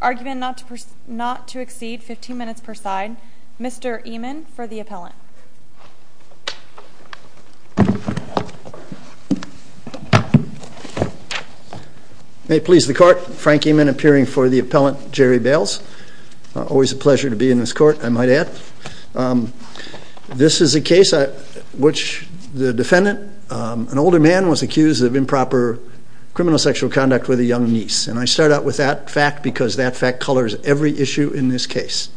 Argument not to exceed 15 minutes per side. Mr. Eman for the appellant. May it please the Court. Frank Eman appearing for the appellant, Jerry Bales. Always a pleasure to the defendant. An older man was accused of improper criminal sexual conduct with a young niece and I start out with that fact because that fact colors every issue in this case.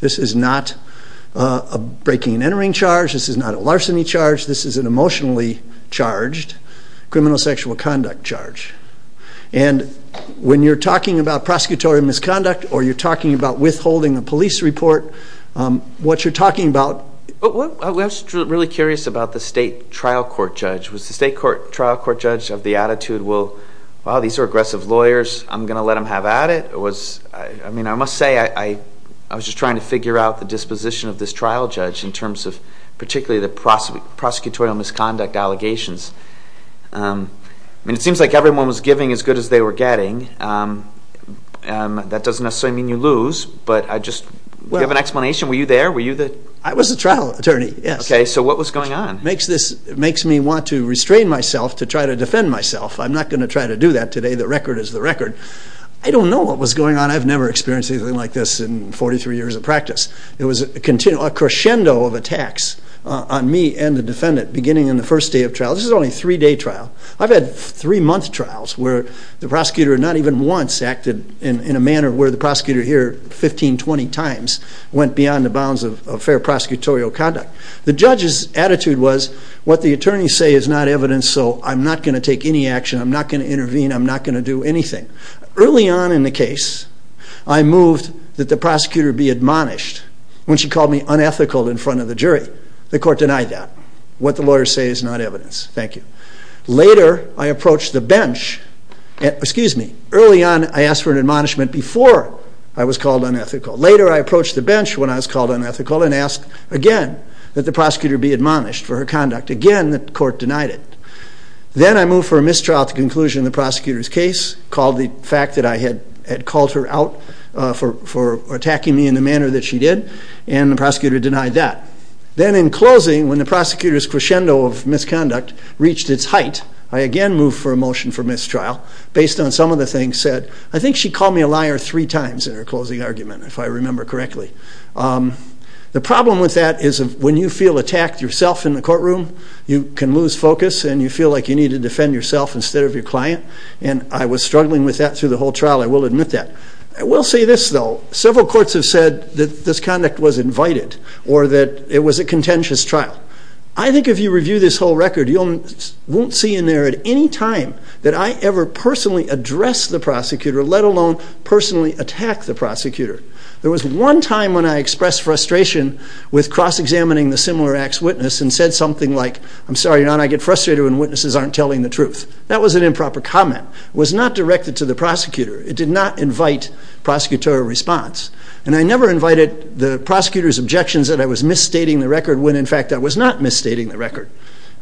This is not a breaking and entering charge, this is not a larceny charge, this is an emotionally charged criminal sexual conduct charge. And when you're talking about prosecutorial misconduct or you're talking about withholding a police report, what you're talking about... I was really curious about the state trial court judge. Was the state trial court judge of the attitude, well these are aggressive lawyers, I'm going to let them have at it? I mean I must say I was just trying to figure out the disposition of this trial judge in terms of particularly the prosecutorial misconduct allegations. I mean it seems like everyone was giving as good as they were getting. That doesn't necessarily mean you lose, but I just... Do you have an opinion? Okay, so what was going on? It makes me want to restrain myself to try to defend myself. I'm not going to try to do that today, the record is the record. I don't know what was going on, I've never experienced anything like this in 43 years of practice. It was a crescendo of attacks on me and the defendant beginning in the first day of trial. This is only a three-day trial. I've had three-month trials where the prosecutor not even once acted in a manner where the prosecutor here 15, 20 times went beyond the bounds of fair prosecutorial conduct. The judge's attitude was what the attorneys say is not evidence, so I'm not going to take any action, I'm not going to intervene, I'm not going to do anything. Early on in the case, I moved that the prosecutor be admonished when she called me unethical in front of the jury. The court denied that. What the lawyers say is not evidence, thank you. Later, I approached the bench, excuse me, early on I asked for an admonishment before I was called unethical and asked again that the prosecutor be admonished for her conduct. Again, the court denied it. Then I moved for a mistrial at the conclusion of the prosecutor's case, called the fact that I had had called her out for attacking me in the manner that she did, and the prosecutor denied that. Then in closing, when the prosecutor's crescendo of misconduct reached its height, I again moved for a motion for mistrial based on some of the things said. I think she called me a liar three times in her closing argument, if I remember correctly. The problem with that is when you feel attacked yourself in the courtroom, you can lose focus and you feel like you need to defend yourself instead of your client, and I was struggling with that through the whole trial, I will admit that. I will say this though, several courts have said that this conduct was invited or that it was a contentious trial. I think if you review this whole record, you won't see in there at any time that I ever personally address the prosecutor, let alone personally attack the prosecutor. There was one time when I expressed frustration with cross-examining the similar act's witness and said something like, I'm sorry, Your Honor, I get frustrated when witnesses aren't telling the truth. That was an improper comment. It was not directed to the prosecutor. It did not invite prosecutorial response, and I never invited the prosecutor's objections that I was misstating the record, when in fact I was not misstating the record.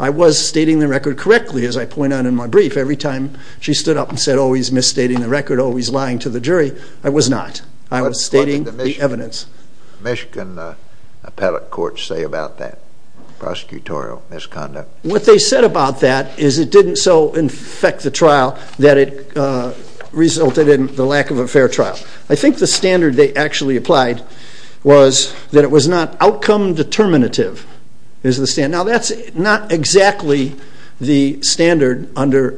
I was stating the record correctly, as I point out in my brief, every time she stood up and said, oh he's misstating the record, oh he's lying to the jury, I was not. I was stating the evidence. What did the Michigan appellate courts say about that prosecutorial misconduct? What they said about that is it didn't so infect the trial that it resulted in the lack of a fair trial. I think the standard they actually applied was that it was not outcome determinative, is the standard. Now that's not exactly the standard under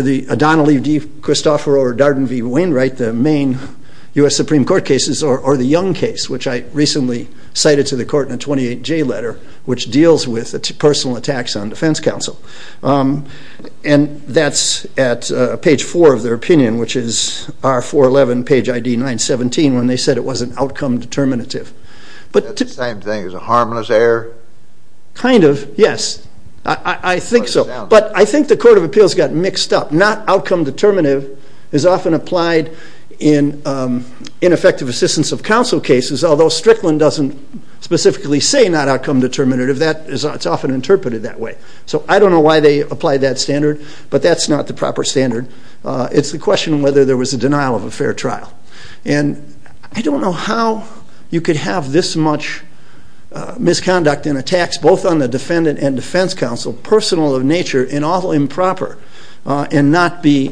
the Adonale D. Cristoforo or Darden v. Wainwright, the main U.S. Supreme Court cases, or the Young case, which I recently cited to the court in a 28J letter, which deals with the personal attacks on Defense Counsel. And that's at page 4 of their opinion, which is R-411, page ID 917, when they said it wasn't outcome determinative. That's the same thing as a harmless error? Kind of, yes. I think so. But I think the Court of Appeals got mixed up. Not outcome determinative is often applied in ineffective assistance of counsel cases, although Strickland doesn't specifically say not outcome determinative, that is often interpreted that way. So I don't know why they applied that standard, but that's not the proper standard. It's the question whether there was a denial of a I don't know how you could have this much misconduct in attacks, both on the defendant and defense counsel, personal of nature and all improper, and not be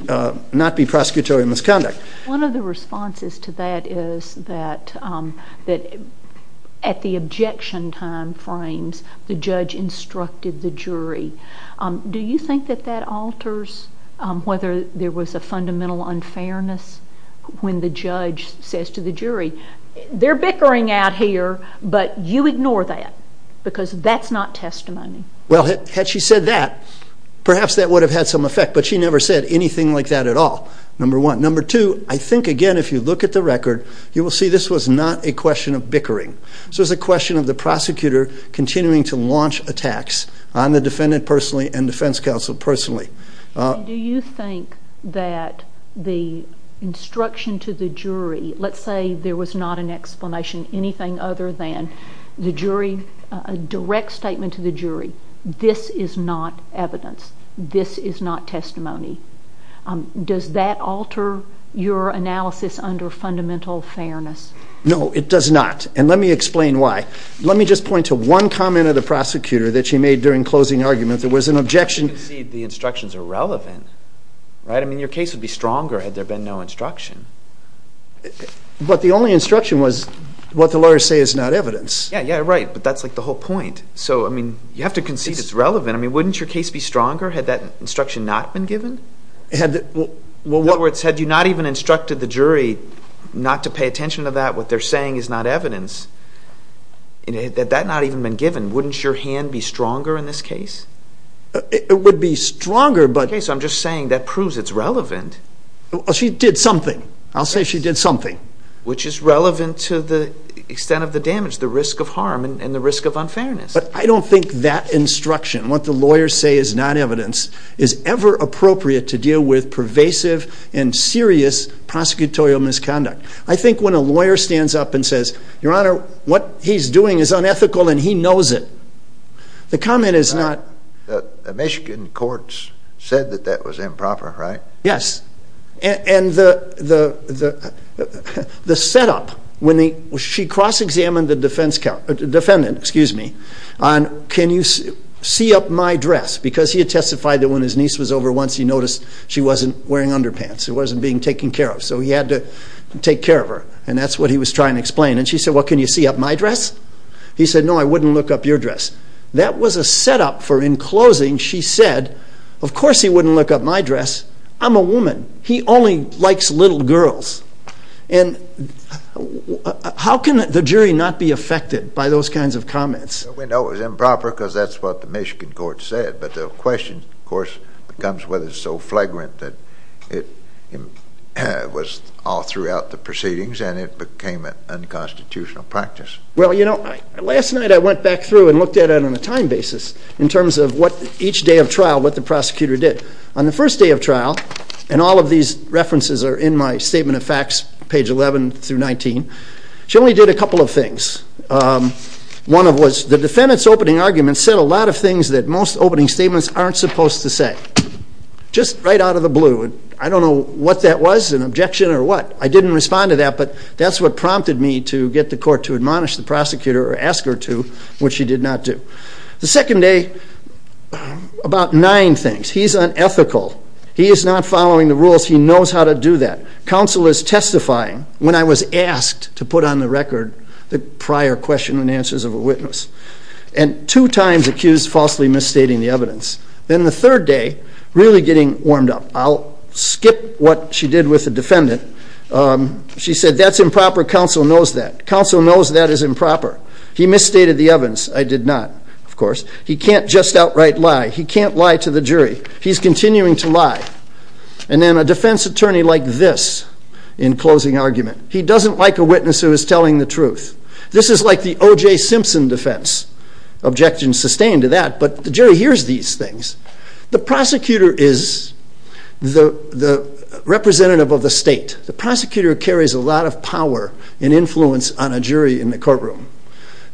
not be prosecutorial misconduct. One of the responses to that is that at the objection time frames, the judge instructed the jury. Do you think that that alters whether there was a fundamental unfairness when the judge says to the jury, they're bickering out here, but you ignore that because that's not testimony? Well, had she said that, perhaps that would have had some effect, but she never said anything like that at all, number one. Number two, I think again if you look at the record, you will see this was not a question of bickering. So it's a question of the prosecutor continuing to launch attacks on the defendant personally and defense counsel personally. Do you think that the instruction to the jury, let's say there was not an explanation, anything other than the jury, a direct statement to the jury, this is not evidence, this is not testimony, does that alter your analysis under fundamental fairness? No, it does not, and let me explain why. Let me just point to one comment of the prosecutor that she made during closing argument. There was an objection. The instructions are relevant, right? I mean your case would be stronger had there been no instruction. But the only instruction was what the lawyers say is not evidence. Yeah, yeah, right, but that's like the whole point. So, I mean, you have to concede it's relevant. I mean, wouldn't your case be stronger had that instruction not been given? In other words, had you not even instructed the jury not to pay attention to that, what they're saying is not evidence, and had that not even been given, wouldn't your hand be stronger in this case? It would be stronger, but... Okay, so I'm just saying that proves it's relevant. She did something. I'll say she did something. Which is relevant to the extent of the damage, the risk of harm, and the risk of unfairness. But I don't think that instruction, what the lawyers say is not evidence, is ever appropriate to deal with pervasive and serious prosecutorial misconduct. I think when a lawyer stands up and says, your honor, what he's doing is unethical and he knows it, the comment is not... The Michigan courts said that that was improper, right? Yes, and the setup, when she cross-examined the defendant on, can you see up my dress? Because he had testified that when his niece was over once, he noticed she wasn't wearing underpants, she wasn't being taken care of, so he had to take care of her, and that's what he was trying to explain. And she said, well, can you see up my dress? He said, no, I wouldn't look up your dress. That was a setup for, in closing, she said, of course he wouldn't look up my dress, I'm a woman, he only likes little girls. And how can the jury not be affected by those kinds of comments? We know it was improper because that's what the Michigan court said, but the question, of course, becomes whether it's so flagrant that it was all throughout the proceedings and it became an unconstitutional practice. Well, you know, last night I went back through and looked at it on a time basis, in terms of what each day of trial, what the prosecutor did. On the first day of trial, and all of these references are in my Statement of Facts, page 11 through 19, she only did a couple of things. One of them was the defendant's opening argument said a lot of things that most opening statements aren't supposed to say, just right out of the blue. I don't know what that was, an objection or what. I didn't respond to that, but that's what prompted me to get the court to do that. The second day, about nine things. He's unethical. He is not following the rules. He knows how to do that. Counsel is testifying. When I was asked to put on the record the prior question and answers of a witness, and two times accused falsely misstating the evidence. Then the third day, really getting warmed up, I'll skip what she did with the defendant. She said that's improper. Counsel knows that. Counsel knows that is improper. He misstated the evidence. I did not, of course. He can't just outright lie. He can't lie to the jury. He's continuing to lie. And then a defense attorney like this in closing argument. He doesn't like a witness who is telling the truth. This is like the OJ Simpson defense. Objection sustained to that, but the jury hears these things. The prosecutor is the representative of the state. The prosecutor carries a lot of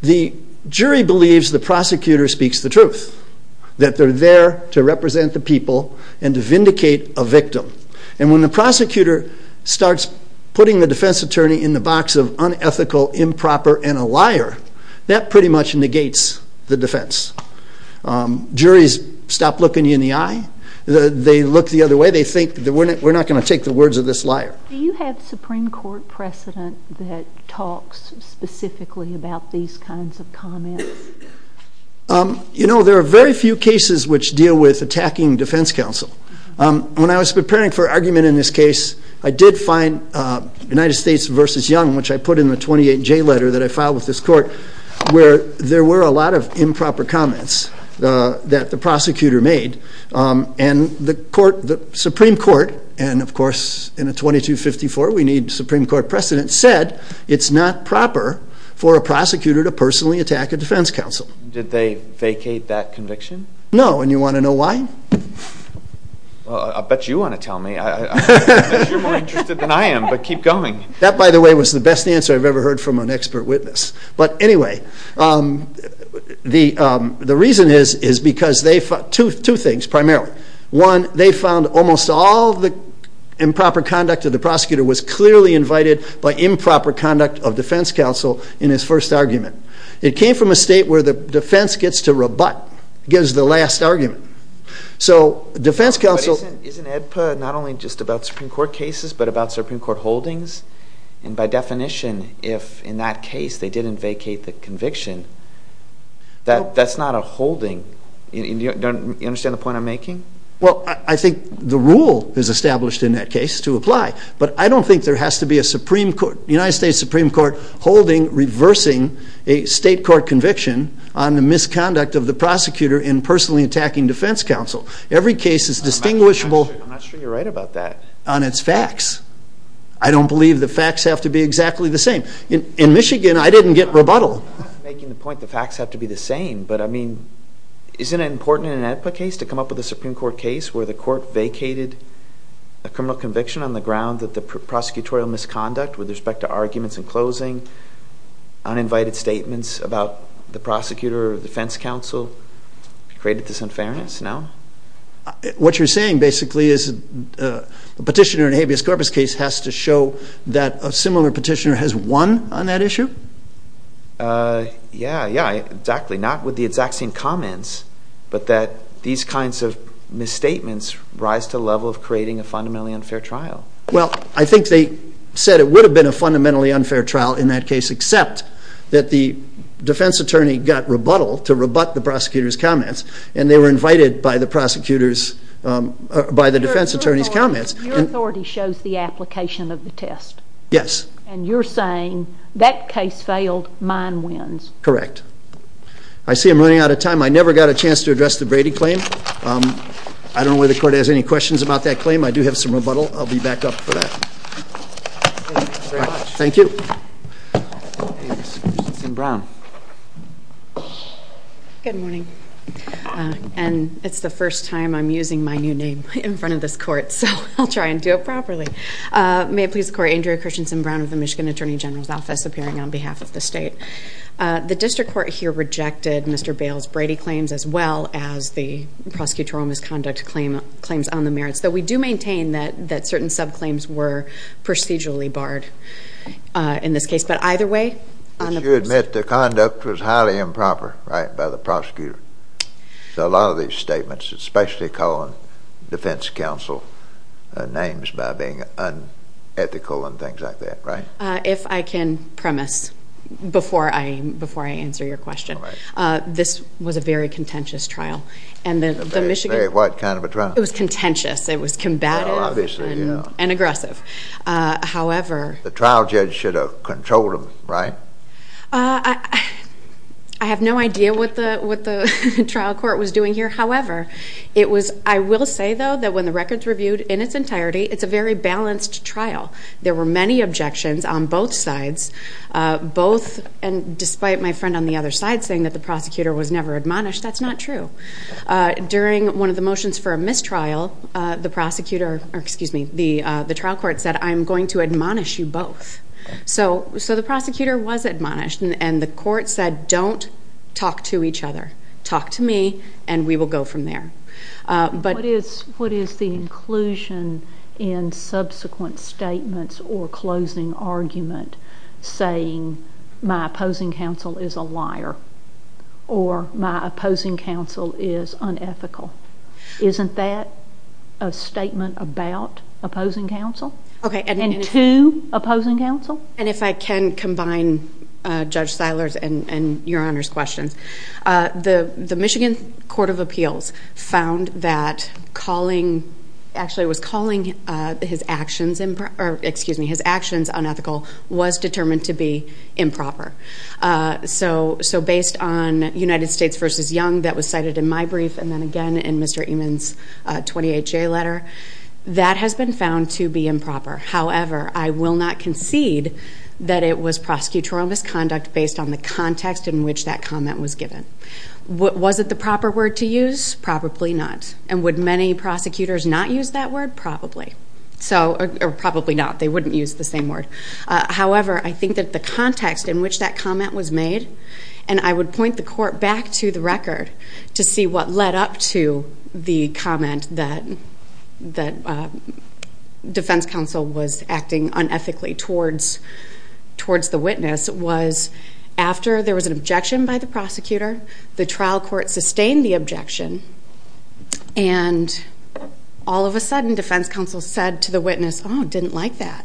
the prosecutor speaks the truth. That they're there to represent the people and to vindicate a victim. And when the prosecutor starts putting the defense attorney in the box of unethical, improper, and a liar, that pretty much negates the defense. Juries stop looking you in the eye. They look the other way. They think that we're not going to take the words of this liar. Do you have Supreme Court precedent? You know, there are very few cases which deal with attacking defense counsel. When I was preparing for argument in this case, I did find United States v. Young, which I put in the 28J letter that I filed with this court, where there were a lot of improper comments that the prosecutor made. And the Supreme Court, and of course in a 2254 we need Supreme Court precedent, said it's not proper for a prosecutor to personally attack a defense counsel. Did they vacate that conviction? No, and you want to know why? I bet you want to tell me. You're more interested than I am, but keep going. That, by the way, was the best answer I've ever heard from an expert witness. But anyway, the reason is, is because they found two things, primarily. One, they found almost all the improper conduct of the prosecutor was clearly invited by improper conduct of defense counsel in his first argument. It came from a state where the defense gets to rebut, gives the last argument. So defense counsel... But isn't EDPA not only just about Supreme Court cases, but about Supreme Court holdings? And by definition, if in that case they didn't vacate the conviction, that that's not a holding. You understand the point I'm making? Well, I think the rule is established in that case to apply, but I don't think there has to be a Supreme Court, United States Supreme Court holding reversing a state court conviction on the misconduct of the prosecutor in personally attacking defense counsel. Every case is distinguishable on its facts. I don't believe the facts have to be exactly the same. In Michigan, I didn't get rebuttal. I'm not making the point the facts have to be the same, but I mean, isn't it important in an EDPA case to come up with a Supreme Court case where the court vacated a criminal conviction on the ground that the uninvited statements about the prosecutor or defense counsel created this unfairness now? What you're saying basically is a petitioner in a habeas corpus case has to show that a similar petitioner has won on that issue? Yeah, yeah, exactly. Not with the exact same comments, but that these kinds of misstatements rise to the level of creating a fundamentally unfair trial. Well, I think they said it would have been a fundamentally unfair trial in that case. Except that the defense attorney got rebuttal to rebut the prosecutor's comments, and they were invited by the defense attorney's comments. Your authority shows the application of the test. Yes. And you're saying that case failed, mine wins. Correct. I see I'm running out of time. I never got a chance to address the Brady claim. I don't know whether the court has any questions about that claim. I do have some rebuttal. I'll be back up for that. Thank you. Thanks. Christiansen-Brown. Good morning. And it's the first time I'm using my new name in front of this court, so I'll try and do it properly. May it please the court, Andrea Christiansen-Brown of the Michigan Attorney General's Office, appearing on behalf of the state. The district court here rejected Mr. Bales' Brady claims, as well as the prosecutorial misconduct claims on the merits, though we do maintain that certain subclaims were procedurally barred in this case. But either way, on the basis of... But you admit the conduct was highly improper, right, by the prosecutor. So a lot of these statements, especially calling defense counsel names by being unethical and things like that, right? If I can premise before I answer your question. This was a very contentious trial. And the Michigan... What kind of a trial? It was contentious. It was combative and aggressive. However... The trial judge should have controlled them, right? I have no idea what the trial court was doing here. However, it was... I will say, though, that when the record's reviewed in its entirety, it's a very balanced trial. There were many objections on both sides, both... And despite my friend on the other side saying that the prosecutor was never admonished, that's not true. During one of the motions for a mistrial, the prosecutor... Excuse me, the trial court said, I'm going to admonish you both. So the prosecutor was admonished, and the court said, don't talk to each other. Talk to me, and we will go from there. But... What is the inclusion in subsequent statements or closing argument saying my opposing counsel is a liar or my opposing counsel is unethical? Isn't that a statement about opposing counsel? Okay, and... And if I can combine Judge Seiler's and Your Honor's questions. The Michigan Court of Appeals found that calling... Actually, it was calling his actions unethical was determined to be improper. So based on United States v. Young, that was cited in my brief, and then again in Mr. Eman's 28-J letter, that has been found to be improper. However, I will not concede that it was prosecutorial misconduct based on the context in which that comment was given. Was it the proper word to use? Probably not. And would many prosecutors not use that word? Probably. So... Or probably not. They wouldn't use the same word. However, I think that the context in which that comment was made, and I would point the court back to the record to see what led up to the comment that defense counsel was acting unethically towards the witness, was after there was an objection by the prosecutor, the trial court sustained the objection, and all of a sudden defense counsel said to the witness, oh, didn't like that,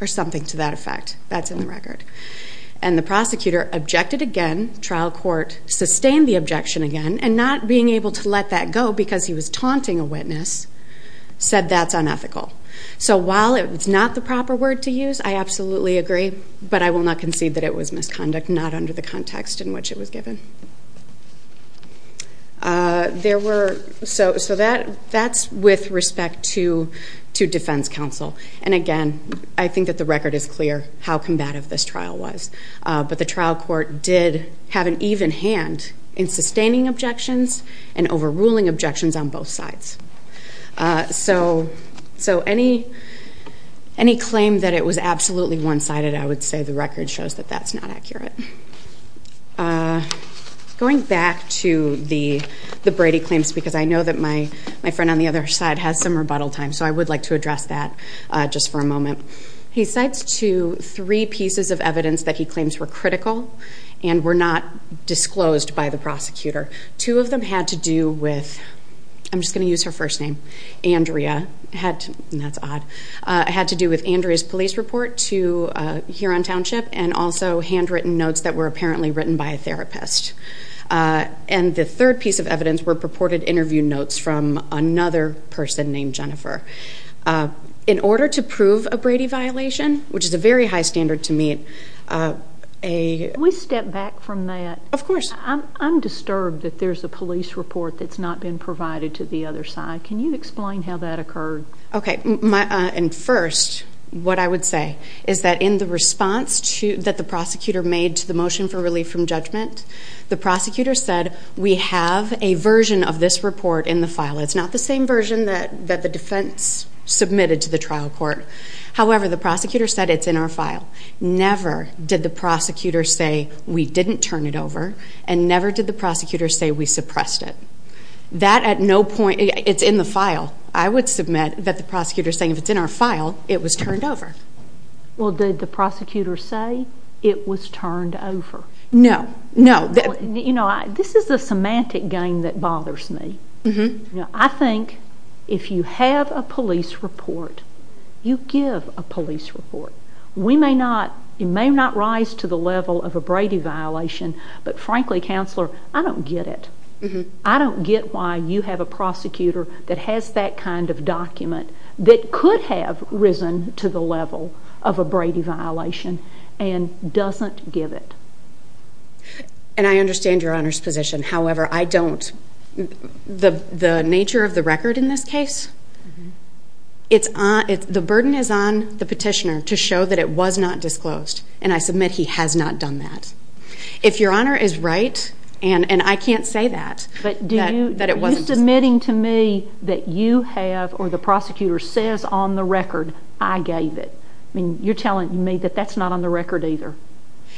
or something to that effect. That's in the record. And the prosecutor objected again, trial court sustained the objection again, and not being able to let that go because he was taunting a witness, said that's unethical. So while it's not the proper word to use, I absolutely agree. But I will not concede that it was misconduct, not under the context in which it was given. There were... So that's with respect to defense counsel. And again, I think that the record is clear how combative this trial was. But the trial court did have an even hand in sustaining objections and overruling objections on both sides. So any claim that it was absolutely one-sided, I would say the record shows that that's not accurate. Going back to the Brady claims, because I know that my friend on the other side has some rebuttal time, so I would like to address that just for a moment. He cites two, three pieces of evidence that he claims were critical and were not disclosed by the prosecutor. Two of them had to do with, I'm just going to use her first name, Andrea. That's odd. Had to do with Andrea's police report to here on township, and also handwritten notes that were apparently written by a therapist. And the third piece of evidence were purported interview notes from another person named Jennifer. In order to prove a Brady violation, which is a very high standard to meet, a... Can we step back from that? Of course. I'm disturbed that there's a police report that's not been provided to the other side. Can you explain how that occurred? Okay. First, what I would say is that in the response that the prosecutor made to the motion for relief from judgment, the prosecutor said, we have a version of this report in the file. It's not the same version that the defense submitted to the trial court. However, the prosecutor said it's in our file. Never did the prosecutor say we didn't turn it over, and never did the prosecutor say we suppressed it. That at no point, it's in the file. I would submit that the prosecutor is saying if it's in our file, it was turned over. Well, did the prosecutor say it was turned over? No. No. You know, this is the semantic game that bothers me. I think if you have a police report, you give a police report. We may not, it may not rise to the level of a Brady violation, but frankly, counselor, I don't get it. that could have risen to the level of a Brady violation and doesn't give it. And I understand Your Honor's position. However, I don't. The nature of the record in this case, the burden is on the petitioner to show that it was not disclosed, and I submit he has not done that. If Your Honor is right, and I can't say that, that it wasn't disclosed. She's admitting to me that you have, or the prosecutor says on the record, I gave it. I mean, you're telling me that that's not on the record either.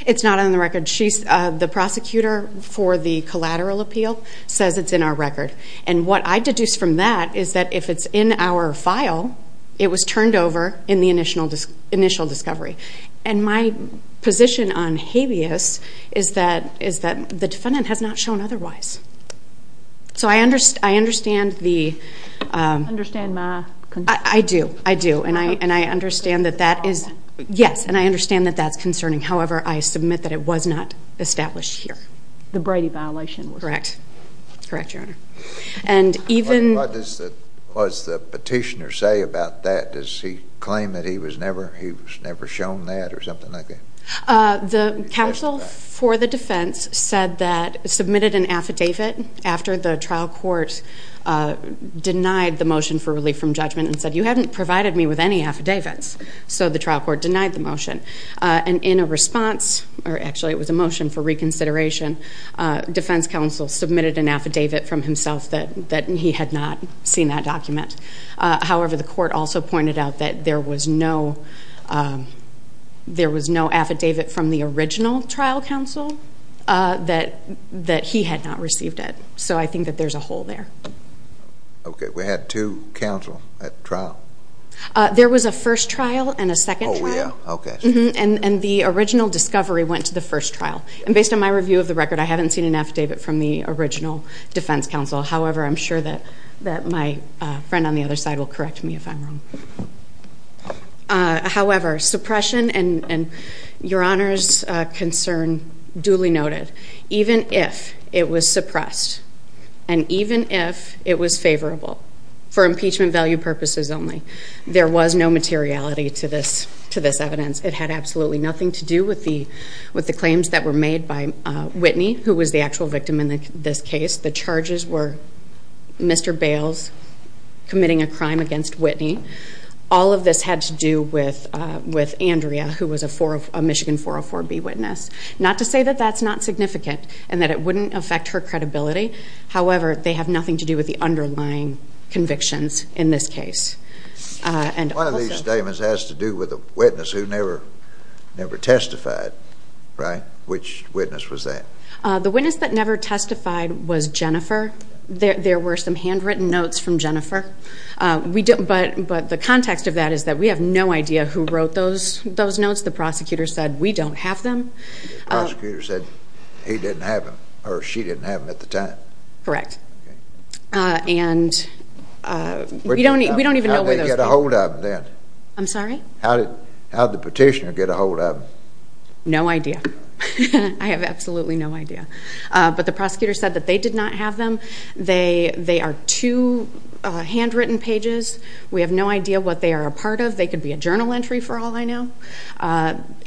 It's not on the record. The prosecutor for the collateral appeal says it's in our record. And what I deduce from that is that if it's in our file, it was turned over in the initial discovery. And my position on habeas is that the defendant has not shown otherwise. So I understand the... Understand my... I do, I do, and I understand that that is... Yes, and I understand that that's concerning. However, I submit that it was not established here. The Brady violation was... Correct. That's correct, Your Honor. And even... What does the petitioner say about that? Does he claim that he was never shown that or something like that? The counsel for the defense said that... Submitted an affidavit after the trial court denied the motion for relief from judgment and said, you haven't provided me with any affidavits. So the trial court denied the motion. And in a response, or actually it was a motion for reconsideration, defense counsel submitted an affidavit from himself that he had not seen that document. However, the court also pointed out that there was no affidavit from the original trial counsel that he had not received it. So I think that there's a hole there. Okay. We had two counsel at trial? There was a first trial and a second trial. Oh, yeah. Okay. And the original discovery went to the first trial. And based on my review of the record, I haven't seen an affidavit from the original defense counsel. However, I'm sure that my friend on the other side will correct me if I'm wrong. However, suppression and Your Honor's concern duly noted, even if it was suppressed and even if it was favorable for impeachment value purposes only, there was no materiality to this evidence. It had absolutely nothing to do with the claims that were made by Whitney, who was the actual victim in this case. The charges were Mr. Bales committing a crime against Whitney. All of this had to do with Andrea, who was a Michigan 404B witness. Not to say that that's not significant and that it wouldn't affect her credibility. However, they have nothing to do with the underlying convictions in this case. One of these statements has to do with a witness who never testified, right? Which witness was that? The witness that never testified was Jennifer. There were some handwritten notes from Jennifer. But the context of that is that we have no idea who wrote those notes. The prosecutor said, we don't have them. The prosecutor said he didn't have them or she didn't have them at the time. Correct. And we don't even know where those came from. How did they get a hold of them then? I'm sorry? How did the petitioner get a hold of them? No idea. I have absolutely no idea. But the prosecutor said that they did not have them. They are two handwritten pages. We have no idea what they are a part of. They could be a journal entry for all I know.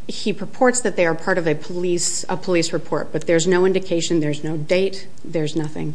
He purports that they are part of a police report. But there's no indication. There's no date. There's nothing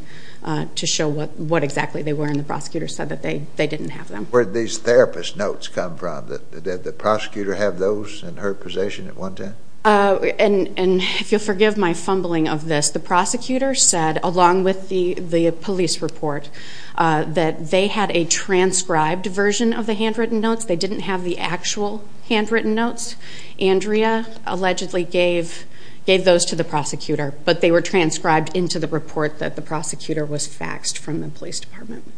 to show what exactly they were. And the prosecutor said that they didn't have them. Where did these therapist notes come from? Did the prosecutor have those in her possession at one time? And if you'll forgive my fumbling of this, the prosecutor said, along with the police report, that they had a transcribed version of the handwritten notes. They didn't have the actual handwritten notes. Andrea allegedly gave those to the prosecutor. But they were transcribed into the report that the prosecutor was faxed from the police department.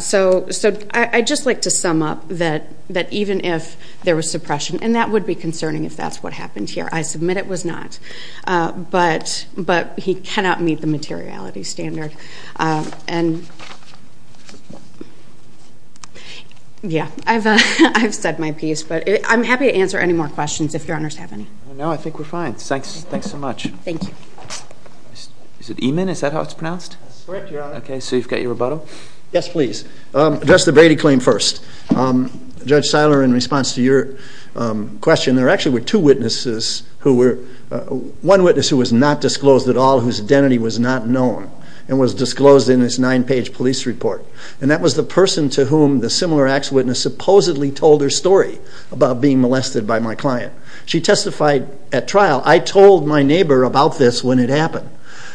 So I'd just like to sum up that even if there was suppression, and that would be concerning if that's what happened here. I submit it was not. But he cannot meet the materiality standard. Yeah. I've said my piece. But I'm happy to answer any more questions if your honors have any. No, I think we're fine. Thank you. Is it Eman? Is that how it's pronounced? That's correct, your honor. Okay, so you've got your rebuttal. Yes, please. I'll address the Brady claim first. Judge Seiler, in response to your question, there actually were two witnesses who were – one witness who was not disclosed at all, whose identity was not known, and was disclosed in this nine-page police report. And that was the person to whom the similar acts witness supposedly told her story about being molested by my client. She testified at trial, I told my neighbor about this when it happened.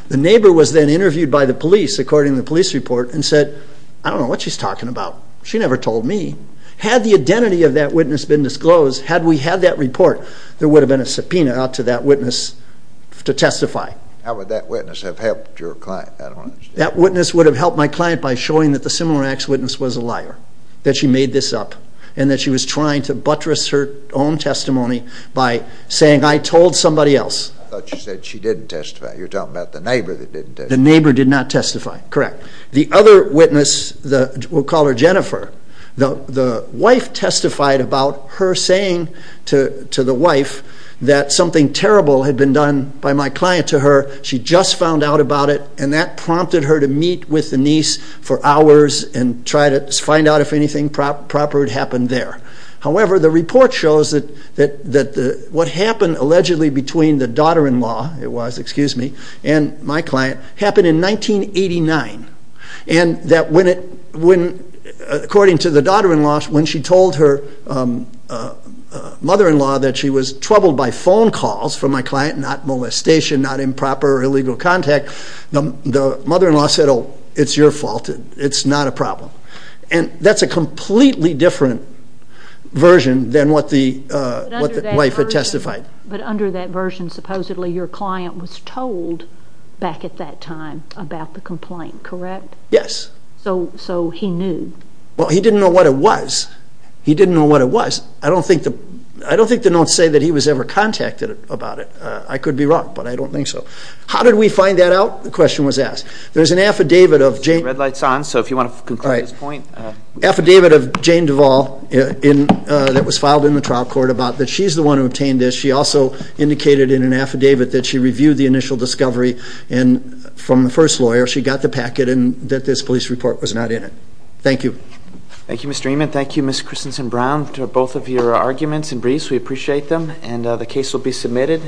The neighbor was then interviewed by the police, according to the police report, and said, I don't know what she's talking about. She never told me. Had the identity of that witness been disclosed, had we had that report, there would have been a subpoena out to that witness to testify. How would that witness have helped your client? I don't understand. That witness would have helped my client by showing that the similar acts witness was a liar, that she made this up, and that she was trying to buttress her own testimony by saying I told somebody else. I thought you said she didn't testify. You're talking about the neighbor that didn't testify. The neighbor did not testify, correct. The other witness, we'll call her Jennifer, the wife testified about her saying to the wife that something terrible had been done by my client to her. She just found out about it, and that prompted her to meet with the niece for hours and try to find out if anything proper had happened there. However, the report shows that what happened, allegedly, between the daughter-in-law, it was, excuse me, and my client, happened in 1989, and that when, according to the daughter-in-law, when she told her mother-in-law that she was troubled by phone calls from my client, not molestation, not improper or illegal contact, the mother-in-law said, oh, it's your fault. It's not a problem. And that's a completely different version than what the wife had testified. But under that version, supposedly, your client was told back at that time about the complaint, correct? Yes. So he knew? Well, he didn't know what it was. He didn't know what it was. I don't think the notes say that he was ever contacted about it. I could be wrong, but I don't think so. How did we find that out? The question was asked. There's an affidavit of Jane... Red light's on, so if you want to conclude this point... Affidavit of Jane Duvall that was filed in the trial court about that she's the one who obtained this. She also indicated in an affidavit that she reviewed the initial discovery from the first lawyer. She got the packet and that this police report was not in it. Thank you. Thank you, Mr. Ehman. Thank you, Ms. Christensen-Brown, to both of your arguments and briefs. We appreciate them. And the case will be submitted.